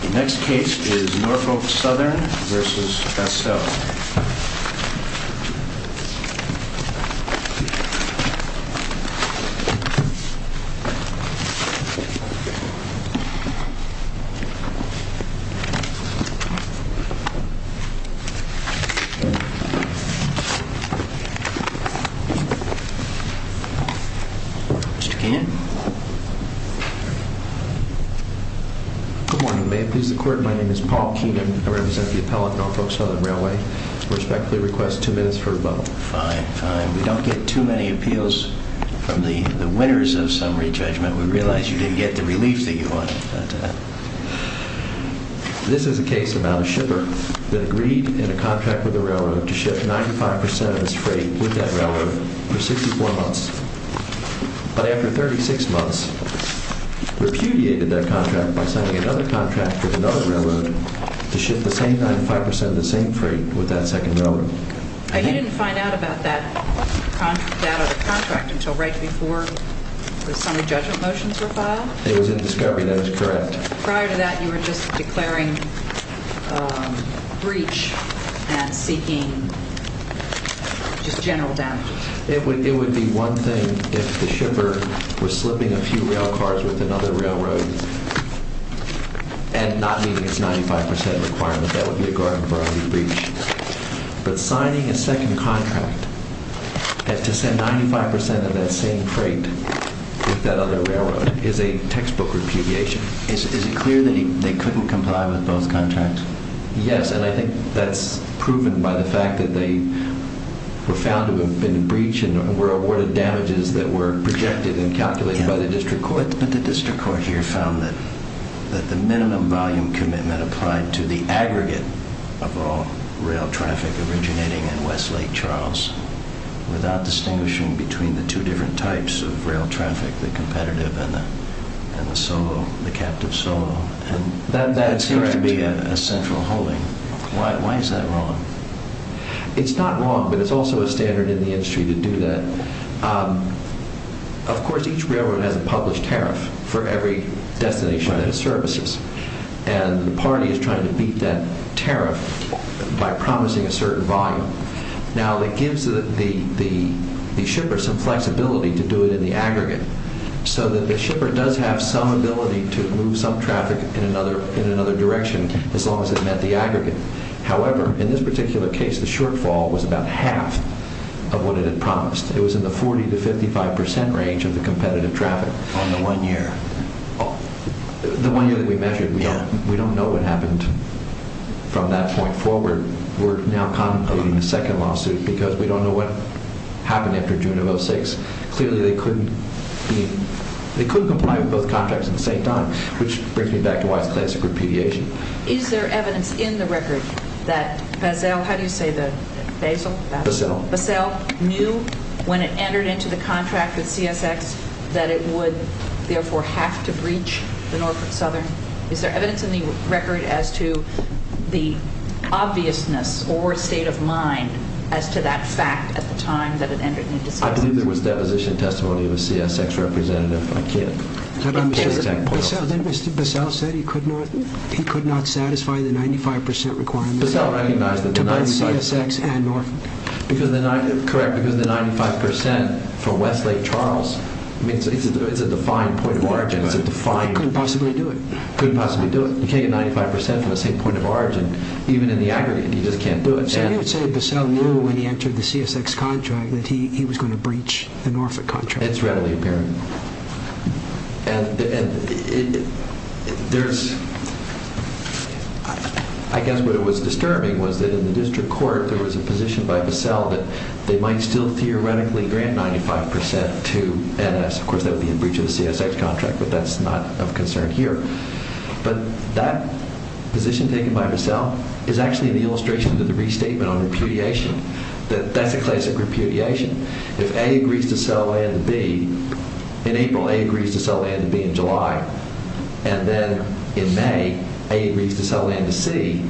The next case is Norfolk Southern v. Basell. Good morning. May it please the court, my name is Paul Keenan. I represent the appellate Norfolk Southern Railway. I respectfully request two minutes for a vote. Fine, fine. We don't get too many appeals from the winners of summary judgment. We realize you didn't get the relief that you wanted. This is a case about a shipper that agreed in a contract with a railroad to ship 95% of its freight with that railroad for 64 months. But after 36 months, repudiated that contract by signing another contract with another railroad to ship the same 95% of the same freight with that second railroad. You didn't find out about that contract until right before the summary judgment motions were filed? It was in discovery, that is correct. Prior to that, you were just declaring breach and seeking just general damages? It would be one thing if the shipper was slipping a few railcars with another railroad and not meeting its 95% requirement. That would be a garden variety breach. But signing a second contract to send 95% of that same freight with that other railroad is a textbook repudiation. Is it clear that they couldn't comply with both contracts? Yes, and I think that's proven by the fact that they were found to have been a breach and were awarded damages that were projected and calculated by the district court. But the district court here found that the minimum volume commitment applied to the aggregate of all rail traffic originating in West Lake Charles without distinguishing between the two different types of rail traffic, the competitive and the solo, the captive solo. That seems to be a central holding. Why is that wrong? It's not wrong, but it's also a standard in the industry to do that. Of course, each railroad has a published tariff for every destination that it services, and the party is trying to beat that tariff by promising a certain volume. Now that gives the shippers some flexibility to do it in the aggregate so that the shipper does have some ability to move some traffic in another direction as long as it met the aggregate. However, in this particular case, the shortfall was about half of what it had promised. It was in the 40 to 55% range of the competitive traffic on the one year. The one year that we measured, we don't know what happened from that point forward. We're now contemplating a second lawsuit because we don't know what happened after June of 06. Clearly, they couldn't comply with both contracts at the same time, which brings me back to why it's a classic repudiation. Is there evidence in the record that Basel knew when it entered into the contract with CSX that it would therefore have to breach the Norfolk Southern? Is there evidence in the record as to the obviousness or state of mind as to that fact at the time that it entered into CSX? I believe there was deposition testimony of a CSX representative. I can't... Then Mr. Basel said he could not satisfy the 95% requirement to both CSX and Norfolk. Correct, because the 95% for Westlake Charles, it's a defined point of origin. He couldn't possibly do it. He couldn't possibly do it. You can't get 95% from the same point of origin. Even in the aggregate, he just can't do it. So you would say Basel knew when he entered the CSX contract that he was going to breach the Norfolk contract? It's readily apparent. I guess what was disturbing was that in the district court, there was a position by Basel that they might still theoretically grant 95% to NS. Of course, that would be a breach of the CSX contract, but that's not of concern here. But that position taken by Basel is actually an illustration of the restatement on repudiation. That's a classic repudiation. If A agrees to sell land to B, in April, A agrees to sell land to B in July, and then in May, A agrees to sell land to C,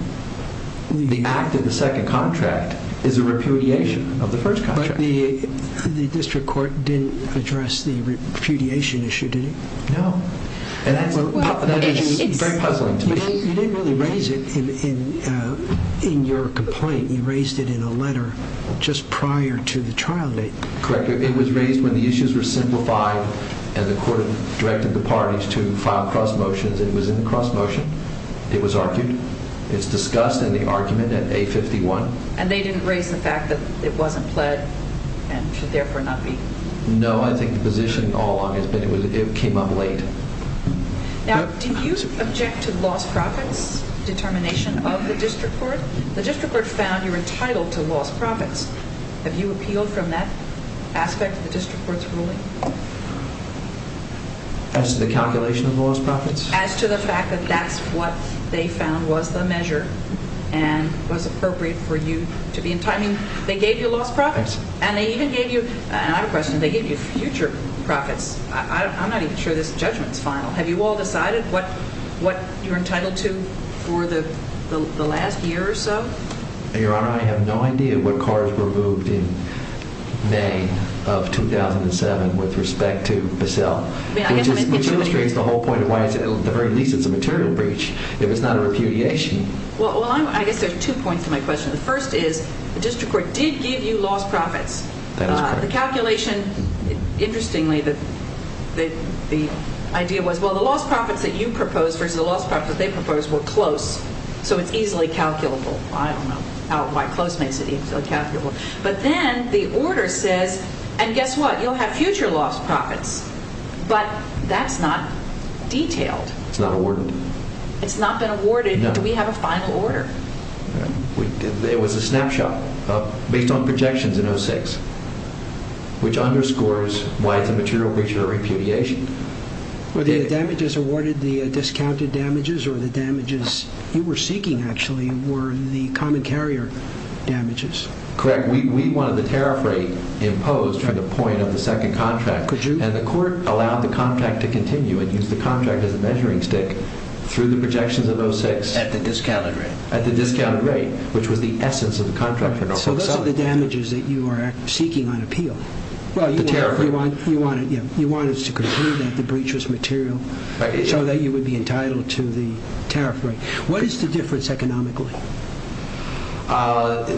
the act of the second contract is a repudiation of the first contract. But the district court didn't address the repudiation issue, did it? No. And that is very puzzling to me. You didn't really raise it in your complaint. You raised it in a letter just prior to the trial date. Correct. It was raised when the issues were simplified and the court directed the parties to file cross motions. It was in the cross motion. It was argued. It's discussed in the argument at A51. And they didn't raise the fact that it wasn't pled and should therefore not be? No. I think the position all along has been it came up late. Now, do you object to lost profits determination of the district court? The district court found you were entitled to lost profits. Have you appealed from that aspect of the district court's ruling? As to the calculation of lost profits? As to the fact that that's what they found was the measure and was appropriate for you to be entitled. I mean, they gave you lost profits. And they even gave you, and I have a question, they gave you future profits. I'm not even sure this judgment's final. Have you all decided what you're entitled to for the last year or so? Your Honor, I have no idea what cars were moved in May of 2007 with respect to Bissell. Which illustrates the whole point of why at the very least it's a material breach, if it's not a repudiation. Well, I guess there's two points to my question. The first is the district court did give you lost profits. The calculation, interestingly, the idea was, well, the lost profits that you proposed versus the lost profits that they proposed were close, so it's easily calculable. I don't know why close makes it easily calculable. But then the order says, and guess what, you'll have future lost profits. But that's not detailed. It's not awarded. It's not been awarded. Do we have a final order? It was a snapshot based on projections in 06, which underscores why it's a material breach or repudiation. Were the damages awarded the discounted damages or the damages you were seeking, actually, were the common carrier damages? Correct. We wanted the tariff rate imposed from the point of the second contract. And the court allowed the contract to continue and used the contract as a measuring stick through the projections of 06. At the discounted rate. At the discounted rate, which was the essence of the contract. So those are the damages that you are seeking on appeal. The tariff rate. You wanted us to conclude that the breach was material so that you would be entitled to the tariff rate. What is the difference economically?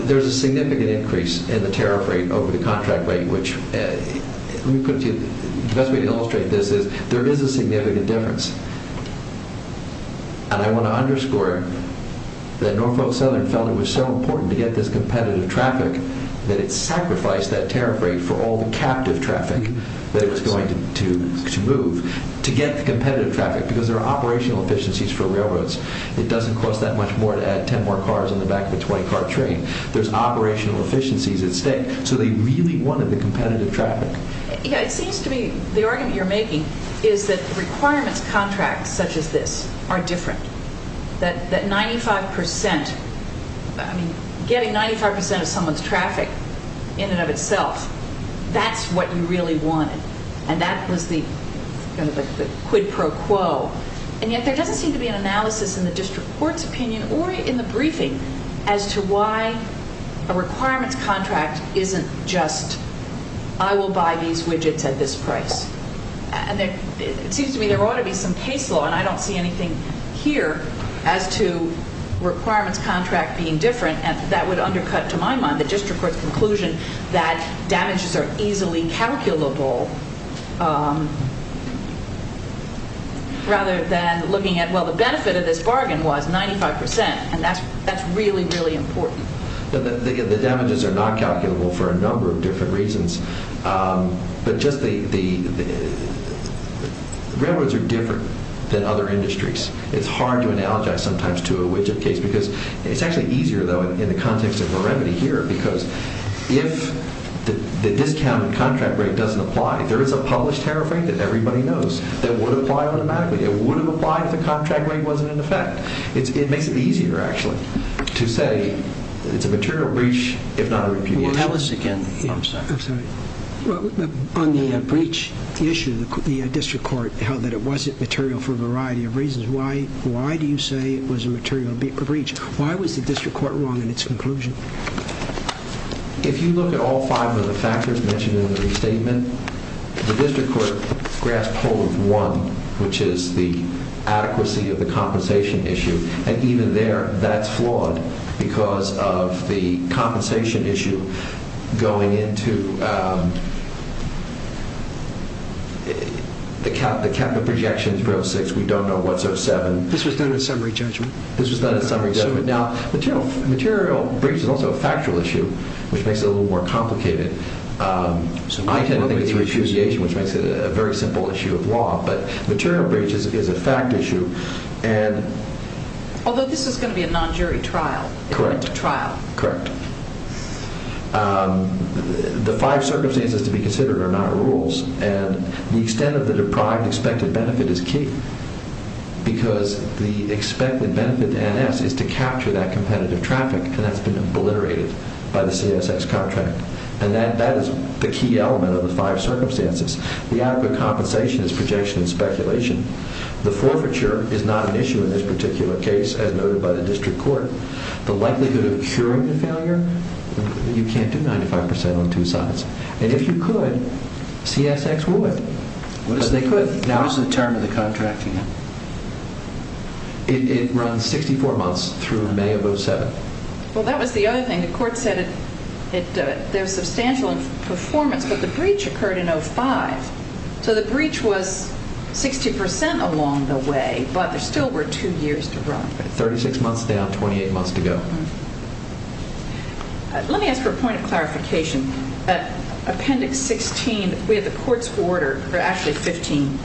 There's a significant increase in the tariff rate over the contract rate, which, let me put it to you, the best way to illustrate this is there is a significant difference. And I want to underscore that Norfolk Southern felt it was so important to get this competitive traffic that it sacrificed that tariff rate for all the captive traffic that it was going to move to get the competitive traffic because there are operational efficiencies for railroads. It doesn't cost that much more to add 10 more cars on the back of a 20-car train. There's operational efficiencies at stake. So they really wanted the competitive traffic. Yeah, it seems to me the argument you're making is that requirements contracts such as this are different. That 95 percent, I mean, getting 95 percent of someone's traffic in and of itself, that's what you really wanted. And that was the quid pro quo. And yet there doesn't seem to be an analysis in the district court's opinion or in the briefing as to why a requirements contract isn't just I will buy these widgets at this price. And it seems to me there ought to be some case law, and I don't see anything here, as to requirements contract being different. And that would undercut, to my mind, the district court's conclusion that damages are easily calculable rather than looking at, well, the benefit of this bargain was 95 percent, and that's really, really important. The damages are not calculable for a number of different reasons. But just the railroads are different than other industries. It's hard to analogize sometimes to a widget case because it's actually easier, though, in the context of a remedy here because if the discounted contract rate doesn't apply, there is a published tariff rate that everybody knows that would apply automatically. It would have applied if the contract rate wasn't in effect. It makes it easier, actually, to say it's a material breach if not a repudiation. Well, tell us again. I'm sorry. I'm sorry. Well, on the breach issue, the district court held that it wasn't material for a variety of reasons. Why do you say it was a material breach? Why was the district court wrong in its conclusion? If you look at all five of the factors mentioned in the restatement, the district court grasped hold of one, which is the adequacy of the compensation issue. And even there, that's flawed because of the compensation issue going into the capital projections, This was done in summary judgment. This was done in summary judgment. Now, material breach is also a factual issue, which makes it a little more complicated. I tend to think it's repudiation, which makes it a very simple issue of law. But material breach is a fact issue. Although this is going to be a non-jury trial. Correct. Correct. The five circumstances to be considered are not rules. And the extent of the deprived expected benefit is key. Because the expected benefit to NS is to capture that competitive traffic. And that's been obliterated by the CSX contract. And that is the key element of the five circumstances. The adequate compensation is projection and speculation. The forfeiture is not an issue in this particular case, as noted by the district court. The likelihood of curing the failure, you can't do 95% on two sides. And if you could, CSX would. What is the term of the contract again? It runs 64 months through May of 07. Well, that was the other thing. The court said there was substantial performance, but the breach occurred in 05. So the breach was 60% along the way, but there still were two years to run. 36 months down, 28 months to go. Let me ask for a point of clarification. Appendix 16, we have the court's order, or actually 15.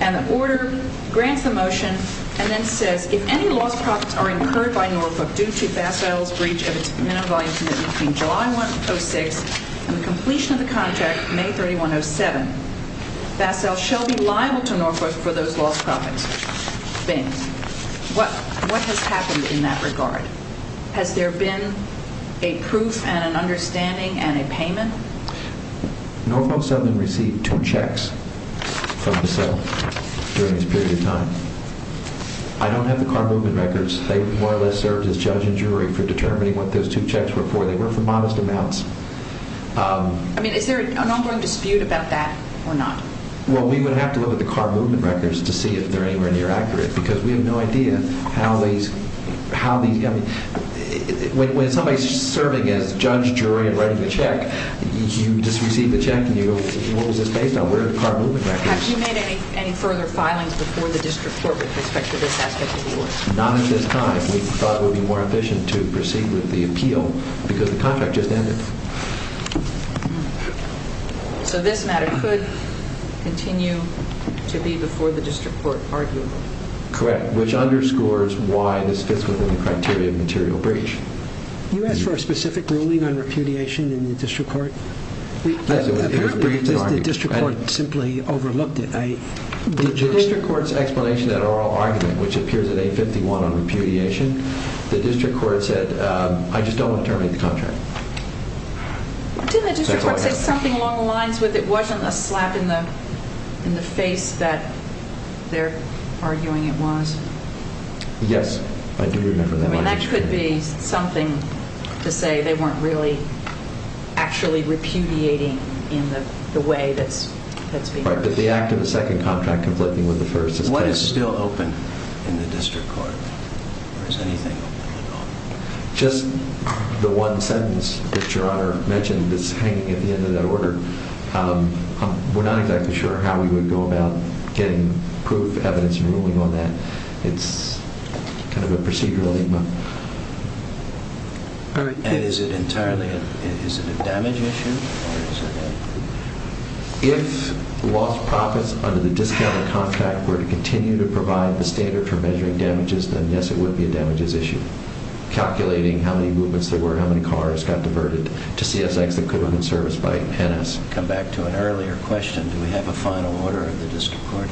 And the order grants the motion and then says, if any lost profits are incurred by Norfolk due to Basile's breach of its minimum volume commitment between July 06 and the completion of the contract, May 31, 07, Basile shall be liable to Norfolk for those lost profits. What has happened in that regard? Has there been a proof and an understanding and a payment? Norfolk Southern received two checks from Basile during this period of time. I don't have the car movement records. They more or less served as judge and jury for determining what those two checks were for. They were for modest amounts. I mean, is there an ongoing dispute about that or not? Well, we would have to look at the car movement records to see if they're anywhere near accurate because we have no idea how these – when somebody's serving as judge, jury, and writing the check, you just receive the check and you go, what was this based on? Where are the car movement records? Have you made any further filings before the district court with respect to this aspect of the order? Not at this time. We thought it would be more efficient to proceed with the appeal because the contract just ended. So this matter could continue to be before the district court arguable? Correct, which underscores why this fits within the criteria of material breach. You asked for a specific ruling on repudiation in the district court? The district court simply overlooked it. The district court's explanation at oral argument, which appears at A51 on repudiation, the district court said, I just don't want to terminate the contract. Didn't the district court say something along the lines with it wasn't a slap in the face that they're arguing it was? Yes, I do remember that line. I mean, that could be something to say they weren't really actually repudiating in the way that's being used. Right, but the act of the second contract conflicting with the first is – What is still open in the district court? Or is anything open at all? Just the one sentence that Your Honor mentioned is hanging at the end of that order. We're not exactly sure how we would go about getting proof, evidence, and ruling on that. It's kind of a procedural enigma. And is it entirely – is it a damage issue? If lost profits under the discounted contract were to continue to provide the standard for measuring damages, then yes, it would be a damages issue. Calculating how many movements there were, how many cars got diverted to CSX that could have been serviced by NS. Come back to an earlier question. Do we have a final order of the district court here?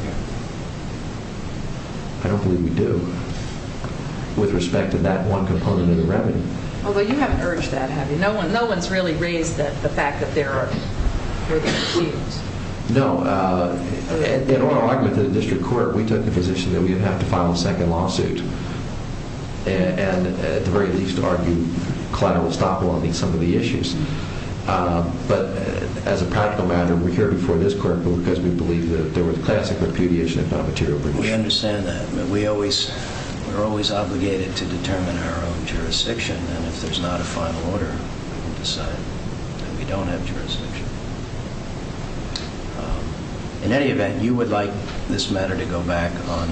I don't believe we do with respect to that one component of the remedy. Although you haven't urged that, have you? No one's really raised the fact that there are disputes. No. In our argument to the district court, we took the position that we would have to file a second lawsuit. And at the very least argue collateral estoppel on some of the issues. But as a practical matter, we're here before this court because we believe that there was classic repudiation of non-material breach. We understand that. We're always obligated to determine our own jurisdiction. And if there's not a final order, we'll decide that we don't have jurisdiction. In any event, you would like this matter to go back on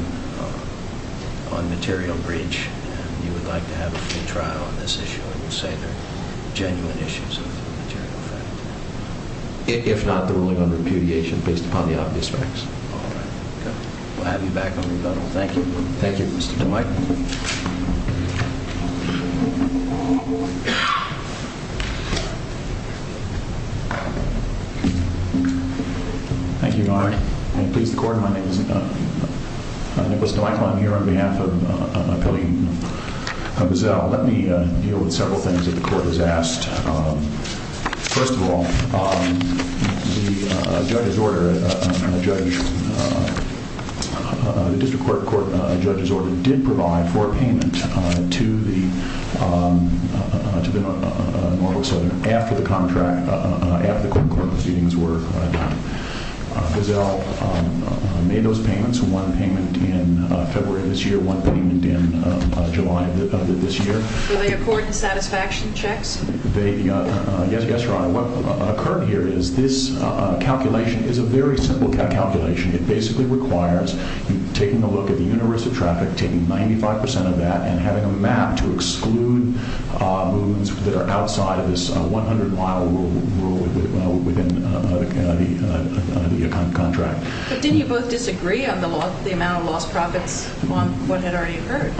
material breach, and you would like to have a full trial on this issue and say there are genuine issues of material effect. If not the ruling on repudiation based upon the obvious facts. All right. Okay. We'll have you back on rebuttal. Thank you. Thank you, Mr. DeWitt. Thank you, Your Honor. May it please the Court, my name is Nicholas DeWitt. I'm here on behalf of a colleague of his. Let me deal with several things that the Court has asked. First of all, the judge's order, the district court judge's order did provide for a payment to the Norfolk Southern after the contract, after the court proceedings were done. Giselle made those payments, one payment in February of this year, one payment in July of this year. Were they accord and satisfaction checks? Yes, Your Honor. What occurred here is this calculation is a very simple calculation. It basically requires taking a look at the universe of traffic, taking 95 percent of that, and having a map to exclude moons that are outside of this 100-mile rule within the contract. But didn't you both disagree on the amount of lost profits on what had already occurred?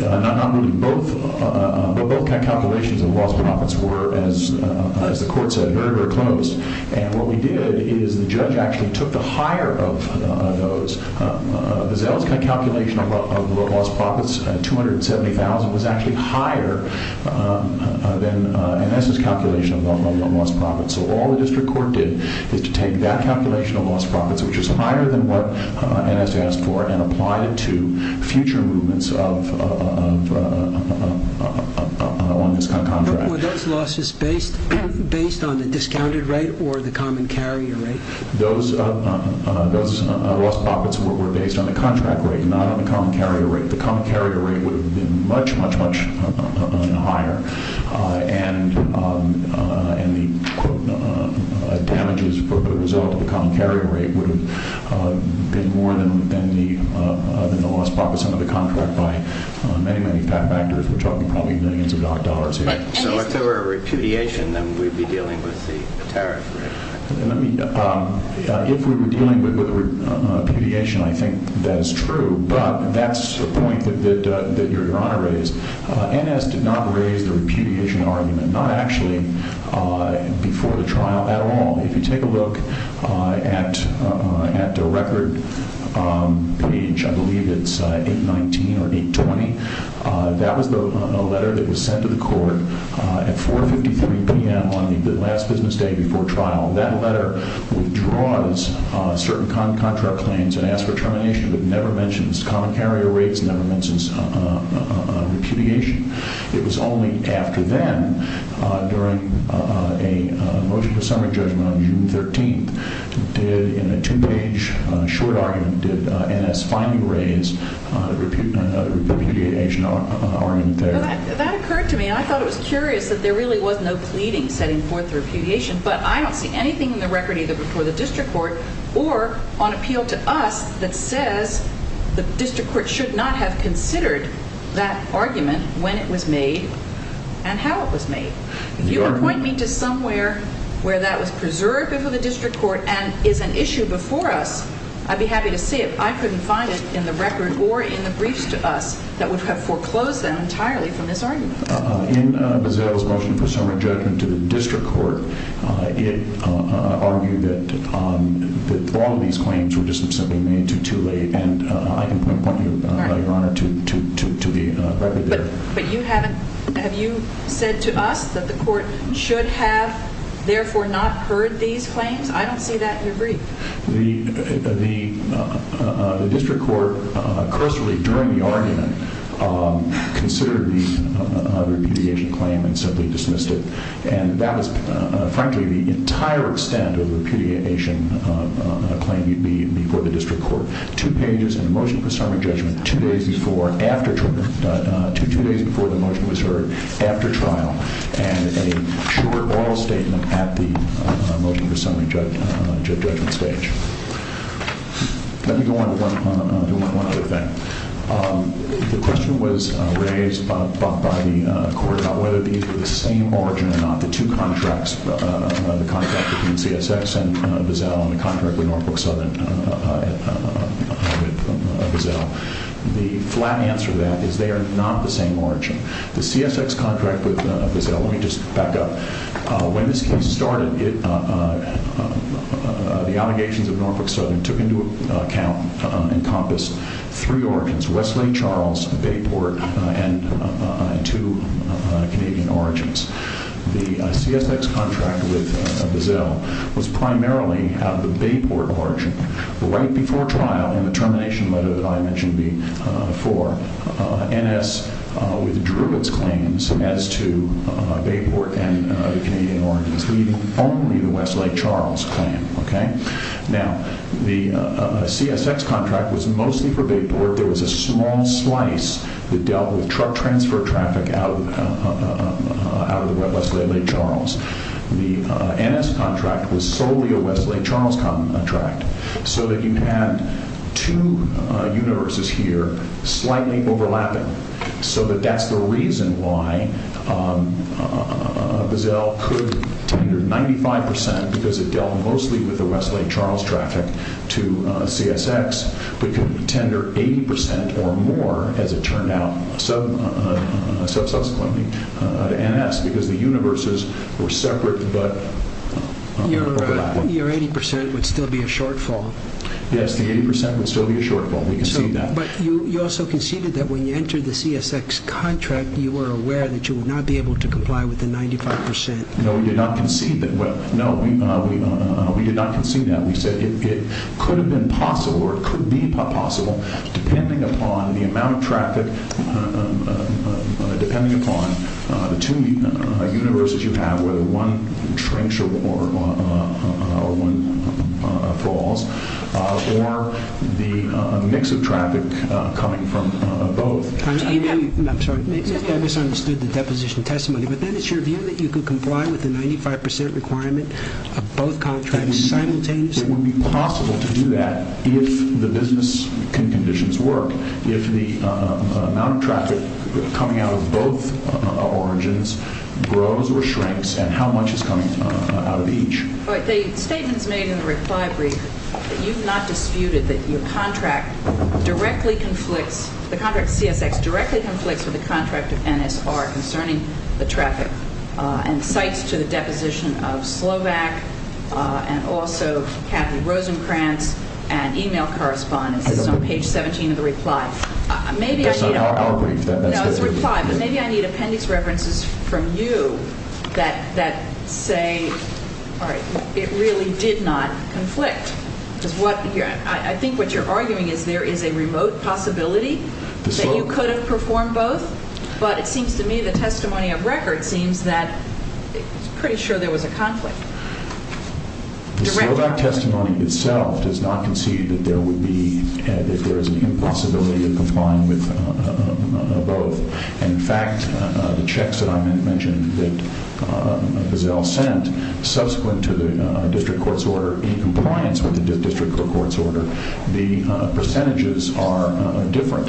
Not really both, but both calculations of lost profits were, as the Court said, very, very close. And what we did is the judge actually took the higher of those. Giselle's calculation of lost profits, 270,000, was actually higher than NS's calculation of lost profits. So all the district court did is to take that calculation of lost profits, which is higher than what NS asked for, and applied it to future movements along this contract. Were those losses based on the discounted rate or the common carrier rate? Those lost profits were based on the contract rate, not on the common carrier rate. The common carrier rate would have been much, much, much higher, and the damages for the result of the common carrier rate would have been more than the lost profits under the contract by many, many factors. We're talking probably millions of dollars here. So if there were a repudiation, then we'd be dealing with the tariff rate. If we were dealing with a repudiation, I think that is true, but that's the point that Your Honor raised. NS did not raise the repudiation argument, not actually before the trial at all. If you take a look at the record page, I believe it's 819 or 820, that was a letter that was sent to the court at 4.53 p.m. on the last business day before trial. That letter withdraws certain contract claims and asks for termination, but never mentions common carrier rates, never mentions repudiation. It was only after then, during a motion for summary judgment on June 13th, did, in a two-page short argument, did NS finally raise the repudiation argument there. Well, that occurred to me, and I thought it was curious that there really was no pleading setting forth the repudiation, but I don't see anything in the record, either before the district court or on appeal to us, that says the district court should not have considered that argument when it was made and how it was made. If you appoint me to somewhere where that was preserved before the district court and is an issue before us, I'd be happy to see it. I couldn't find it in the record or in the briefs to us that would have foreclosed them entirely from this argument. In Bazell's motion for summary judgment to the district court, it argued that all of these claims were just simply made too late, and I can point you, Your Honor, to the record there. But you haven't, have you said to us that the court should have therefore not heard these claims? I don't see that in your brief. The district court, cursory during the argument, considered the repudiation claim and simply dismissed it, and that was, frankly, the entire extent of the repudiation claim before the district court. Two pages in the motion for summary judgment, two days before the motion was heard after trial, and a short oral statement at the motion for summary judgment stage. Let me go on to one other thing. The question was raised by the court about whether these were the same origin or not, the two contracts, the contract between CSX and Bazell and the contract with Norfolk Southern and Bazell. The flat answer to that is they are not the same origin. The CSX contract with Bazell, let me just back up. When this case started, the allegations of Norfolk Southern took into account, encompassed three origins, Wesley Charles, Bayport, and two Canadian origins. The CSX contract with Bazell was primarily of the Bayport origin. Right before trial in the termination letter that I mentioned before, NS withdrew its claims as to Bayport and the Canadian origins, leaving only the Wesley Charles claim. Now, the CSX contract was mostly for Bayport. There was a small slice that dealt with truck transfer traffic out of the Wesley Charles. The NS contract was solely a Wesley Charles contract, so that you had two universes here, slightly overlapping, so that that's the reason why Bazell could tender 95% because it dealt mostly with the Wesley Charles traffic to CSX, but could tender 80% or more, as it turned out, subsequently to NS because the universes were separate but overlapped. Your 80% would still be a shortfall. Yes, the 80% would still be a shortfall. We concede that. But you also conceded that when you entered the CSX contract, you were aware that you would not be able to comply with the 95%. No, we did not concede that. No, we did not concede that. We said it could have been possible, or it could be possible, depending upon the amount of traffic, depending upon the two universes you have, whether one shrinks or falls, or the mix of traffic coming from both. I'm sorry. I misunderstood the deposition testimony. But then it's your view that you could comply with the 95% requirement of both contracts simultaneously? It would be possible to do that if the business conditions work, if the amount of traffic coming out of both origins grows or shrinks, and how much is coming out of each. All right, the statements made in the reply brief, you've not disputed that your contract directly conflicts, the contract CSX directly conflicts with the contract of NSR concerning the traffic and cites to the deposition of Slovak and also Kathy Rosenkranz, and e-mail correspondence is on page 17 of the reply. Maybe I need appendix references from you that say it really did not conflict. I think what you're arguing is there is a remote possibility that you could have performed both, but it seems to me the testimony of record seems that it's pretty sure there was a conflict. The Slovak testimony itself does not concede that there would be, that there is an impossibility of complying with both. In fact, the checks that I mentioned that Giselle sent, subsequent to the district court's order in compliance with the district court's order, the percentages are different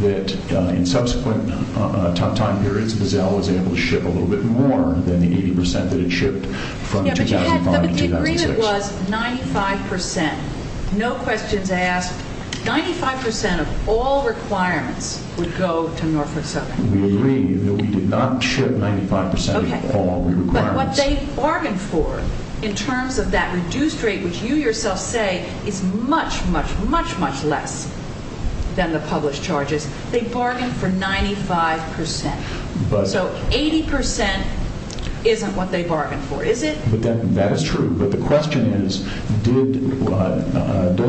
that in subsequent time periods, Giselle was able to ship a little bit more than the 80% that it shipped from 2005 to 2006. But the agreement was 95%. No questions asked, 95% of all requirements would go to Norfolk Southern. We agree that we did not ship 95% of all requirements. But what they bargained for in terms of that reduced rate, which you yourself say is much, much, much, much less than the published charges, they bargained for 95%. So 80% isn't what they bargained for, is it? That is true. But the question is, does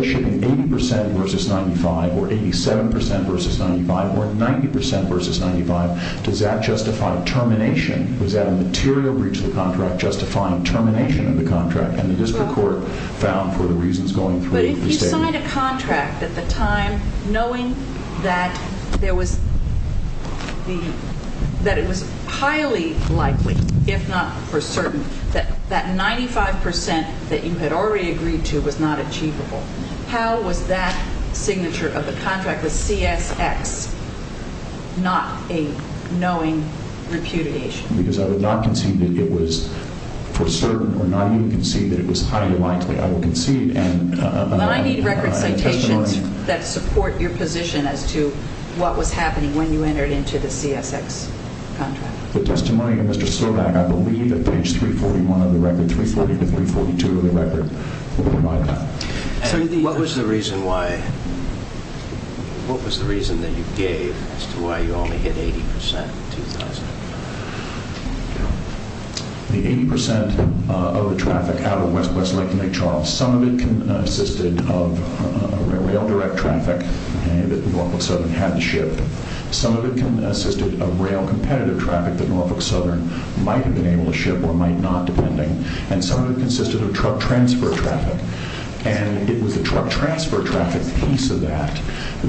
shipping 80% versus 95 or 87% versus 95 or 90% versus 95, does that justify termination? Was that a material breach of the contract justifying termination of the contract? And the district court found for the reasons going through the statement. But if you signed a contract at the time knowing that it was highly likely, if not for certain, that that 95% that you had already agreed to was not achievable, how was that signature of the contract with CSX not a knowing repudiation? Because I would not concede that it was for certain or not even concede that it was highly likely. I will concede. But I need record citations that support your position as to what was happening when you entered into the CSX contract. The testimony of Mr. Slovak, I believe, at page 341 of the record, What was the reason that you gave as to why you only hit 80% in 2000? The 80% of the traffic out of west-west Lake and Lake Charles, some of it consisted of rail direct traffic that Norfolk Southern had to ship. Some of it consisted of rail competitive traffic that Norfolk Southern might have been able to ship or might not, depending. And some of it consisted of truck transfer traffic. And it was the truck transfer traffic piece of that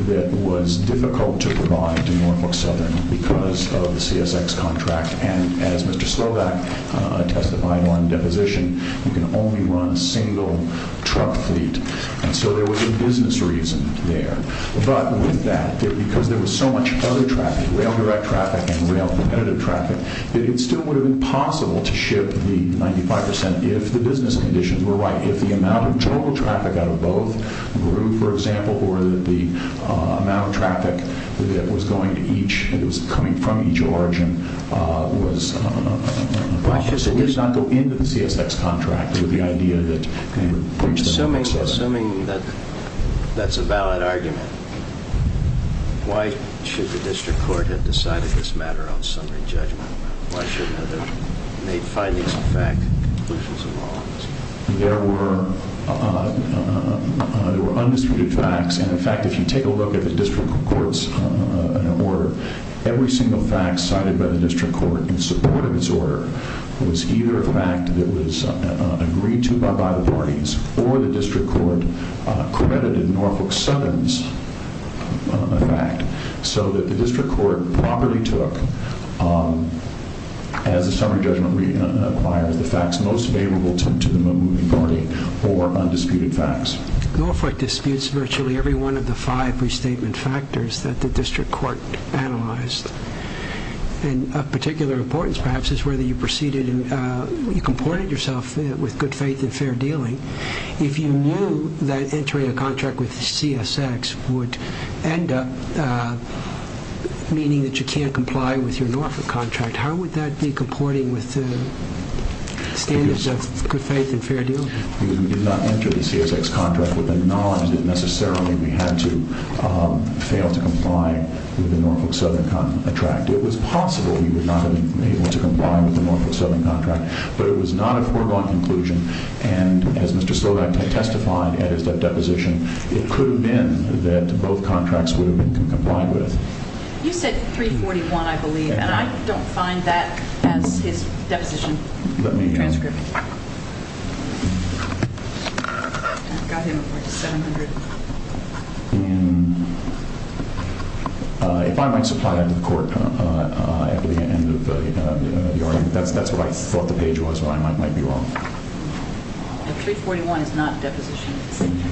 that was difficult to provide to Norfolk Southern because of the CSX contract. And as Mr. Slovak testified on deposition, you can only run a single truck fleet. And so there was a business reason there. But with that, because there was so much other traffic, rail direct traffic and rail competitive traffic, that it still would have been possible to ship the 95% if the business conditions were right, if the amount of total traffic out of both grew, for example, or that the amount of traffic that was going to each, that was coming from each origin was right. So we did not go into the CSX contract with the idea that we would reach the next level. Assuming that's a valid argument, why should the district court have decided this matter on summary judgment? Why shouldn't it have made findings of fact, conclusions of law? There were undisputed facts. And, in fact, if you take a look at the district court's order, every single fact cited by the district court in support of its order was either a fact that was agreed to by either parties or the district court credited Norfolk Sutton's fact so that the district court properly took, as the summary judgment requires, the facts most favorable to the moving party or undisputed facts. Norfolk disputes virtually every one of the five restatement factors that the district court analyzed. And of particular importance, perhaps, is whether you proceeded, you comported yourself with good faith and fair dealing. If you knew that entering a contract with the CSX would end up meaning that you can't comply with your Norfolk contract, how would that be comporting with the standards of good faith and fair dealing? We did not enter the CSX contract with the knowledge that necessarily we had to fail to comply with the Norfolk Sutton contract. It was possible we would not have been able to comply with the Norfolk Sutton contract, but it was not a foregone conclusion. And, as Mr. Slovak had testified at his deposition, it could have been that both contracts would have been complied with. You said 341, I believe, and I don't find that as his deposition transcript. Let me... I've got him at, like, 700. And if I might supply that to the court at the end of the argument, that's what I thought the page was, but I might be wrong. 341 is not a deposition. Thank you.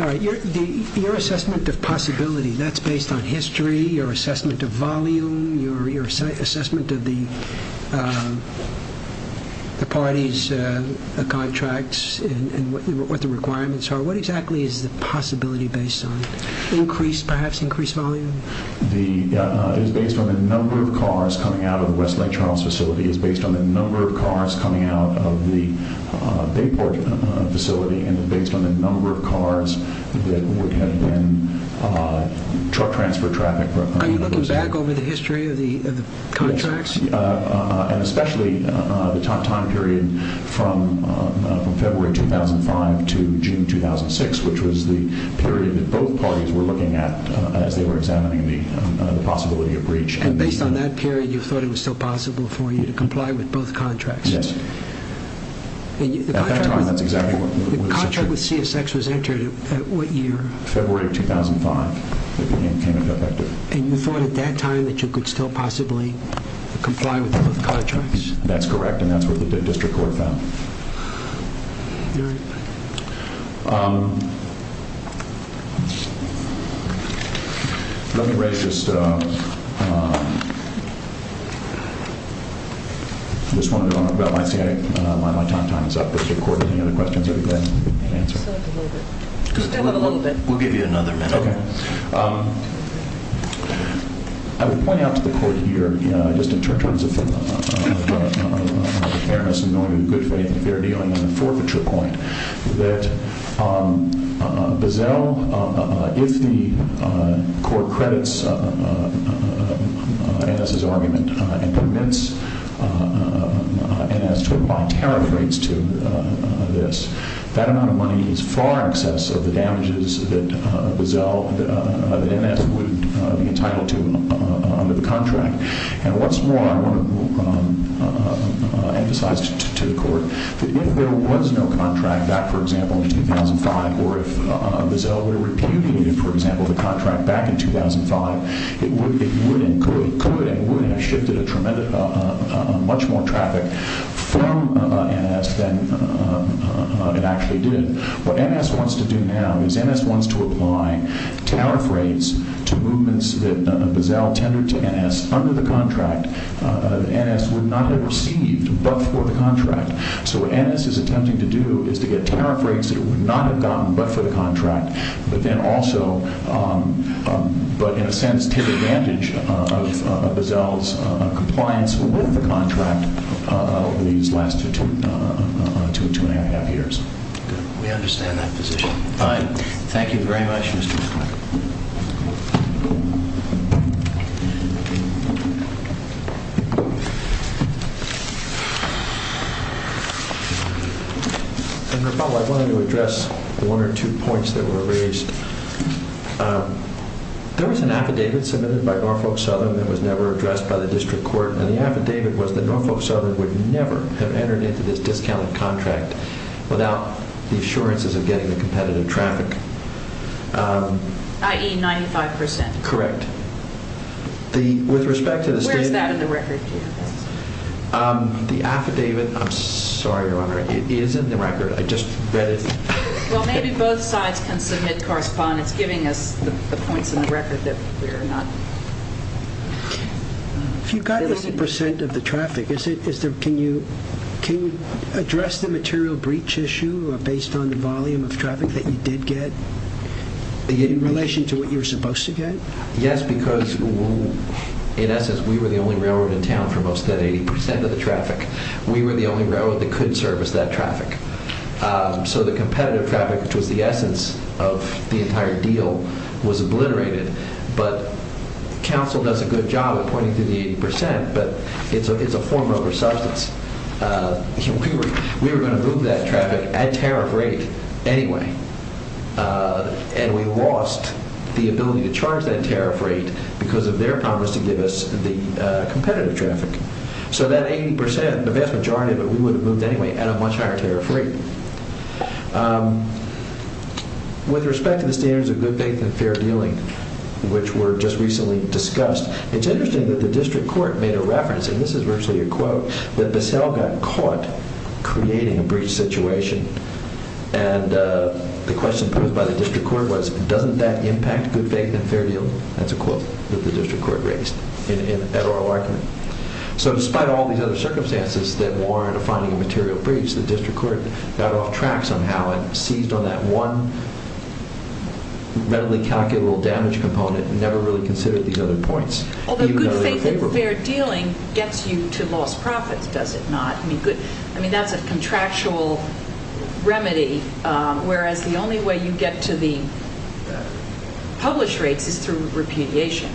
All right, your assessment of possibility, that's based on history, your assessment of volume, your assessment of the parties' contracts and what the requirements are, what exactly is the possibility based on? Increased, perhaps, increased volume? It is based on the number of cars coming out of the Westlake Charles facility. It is based on the number of cars coming out of the Bayport facility and it is based on the number of cars that would have been truck transfer traffic. Are you looking back over the history of the contracts? And especially the time period from February 2005 to June 2006, which was the period that both parties were looking at as they were examining the possibility of breach. And based on that period, you thought it was still possible for you to comply with both contracts? Yes. The contract with CSX was entered at what year? February 2005. And you thought at that time that you could still possibly comply with both contracts? That's correct, and that's what the district court found. Let me raise just one more about my time. My time is up. Does the court have any other questions that he can answer? Just a little bit. We'll give you another minute. Okay. I would point out to the court here, just in terms of fairness and knowing with good faith that they're dealing on a forfeiture point, that Bazell, if the court credits NS's argument and permits NS to apply tariff rates to this, that amount of money is far in excess of the damages that NS would be entitled to under the contract. And what's more, I want to emphasize to the court that if there was no contract back, for example, in 2005, or if Bazell were to repudiate, for example, the contract back in 2005, it could and would have shifted much more traffic from NS than it actually did. What NS wants to do now is NS wants to apply tariff rates to movements that Bazell tendered to NS under the contract that NS would not have received but for the contract. So what NS is attempting to do is to get tariff rates that it would not have gotten but for the contract, but then also, but in a sense, take advantage of Bazell's compliance with the contract over these last two and a half years. Good. We understand that position. Fine. Thank you very much, Mr. McCoy. I wanted to address one or two points that were raised. There was an affidavit submitted by Norfolk Southern that was never addressed by the district court, and the affidavit was that Norfolk Southern would never have entered into this discounted contract without the assurances of getting the competitive traffic. I.e., 95%. Correct. Where is that in the record? The affidavit, I'm sorry, Your Honor. It is in the record. I just read it. Well, maybe both sides can submit correspondence giving us the points in the record that we're not... If you got 90% of the traffic, can you address the material breach issue based on the volume of traffic that you did get in relation to what you were supposed to get? Yes, because in essence, we were the only railroad in town for most of that 80% of the traffic. We were the only railroad that could service that traffic. So the competitive traffic, which was the essence of the entire deal, was obliterated. But counsel does a good job at pointing to the 80%, but it's a form over substance. We were going to move that traffic at a tariff rate anyway, and we lost the ability to charge that tariff rate because of their promise to give us the competitive traffic. So that 80%, the vast majority of it, we would have moved anyway at a much higher tariff rate. With respect to the standards of good faith and fair dealing, which were just recently discussed, it's interesting that the district court made a reference, and this is virtually a quote, that Bissell got caught creating a breach situation. And the question posed by the district court was, doesn't that impact good faith and fair dealing? That's a quote that the district court raised at oral argument. So despite all these other circumstances that warranted finding a material breach, the district court got off track somehow and seized on that one readily calculable damage component and never really considered these other points, even though they were favorable. Although good faith and fair dealing gets you to lost profits, does it not? I mean, that's a contractual remedy, whereas the only way you get to the published rates is through repudiation.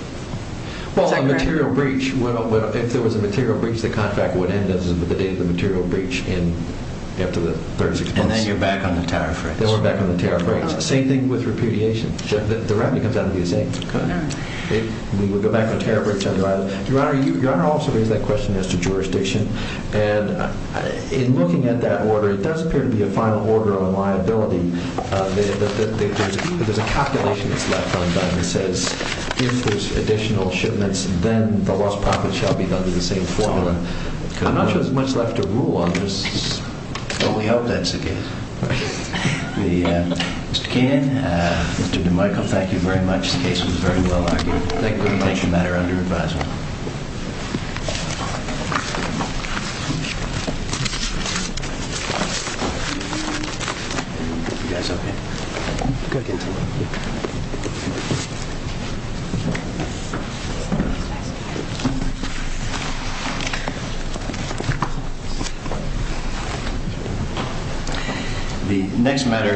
Well, a material breach, if there was a material breach, the contract would end at the date of the material breach after the third is exposed. And then you're back on the tariff rates. Then we're back on the tariff rates. Same thing with repudiation. The remedy comes out to be the same. We would go back on tariff rates. Your Honor, you also raised that question as to jurisdiction. And in looking at that order, it does appear to be a final order of liability. There's a calculation that's left undone that says, if there's additional shipments, then the lost profits shall be done with the same formula. I'm not sure there's much left to rule on this. Well, we hope that's the case. Mr. Keenan, Mr. DeMichiel, thank you very much. The case was very well argued. Thank you for your attention. That is under advisement. The next matter is...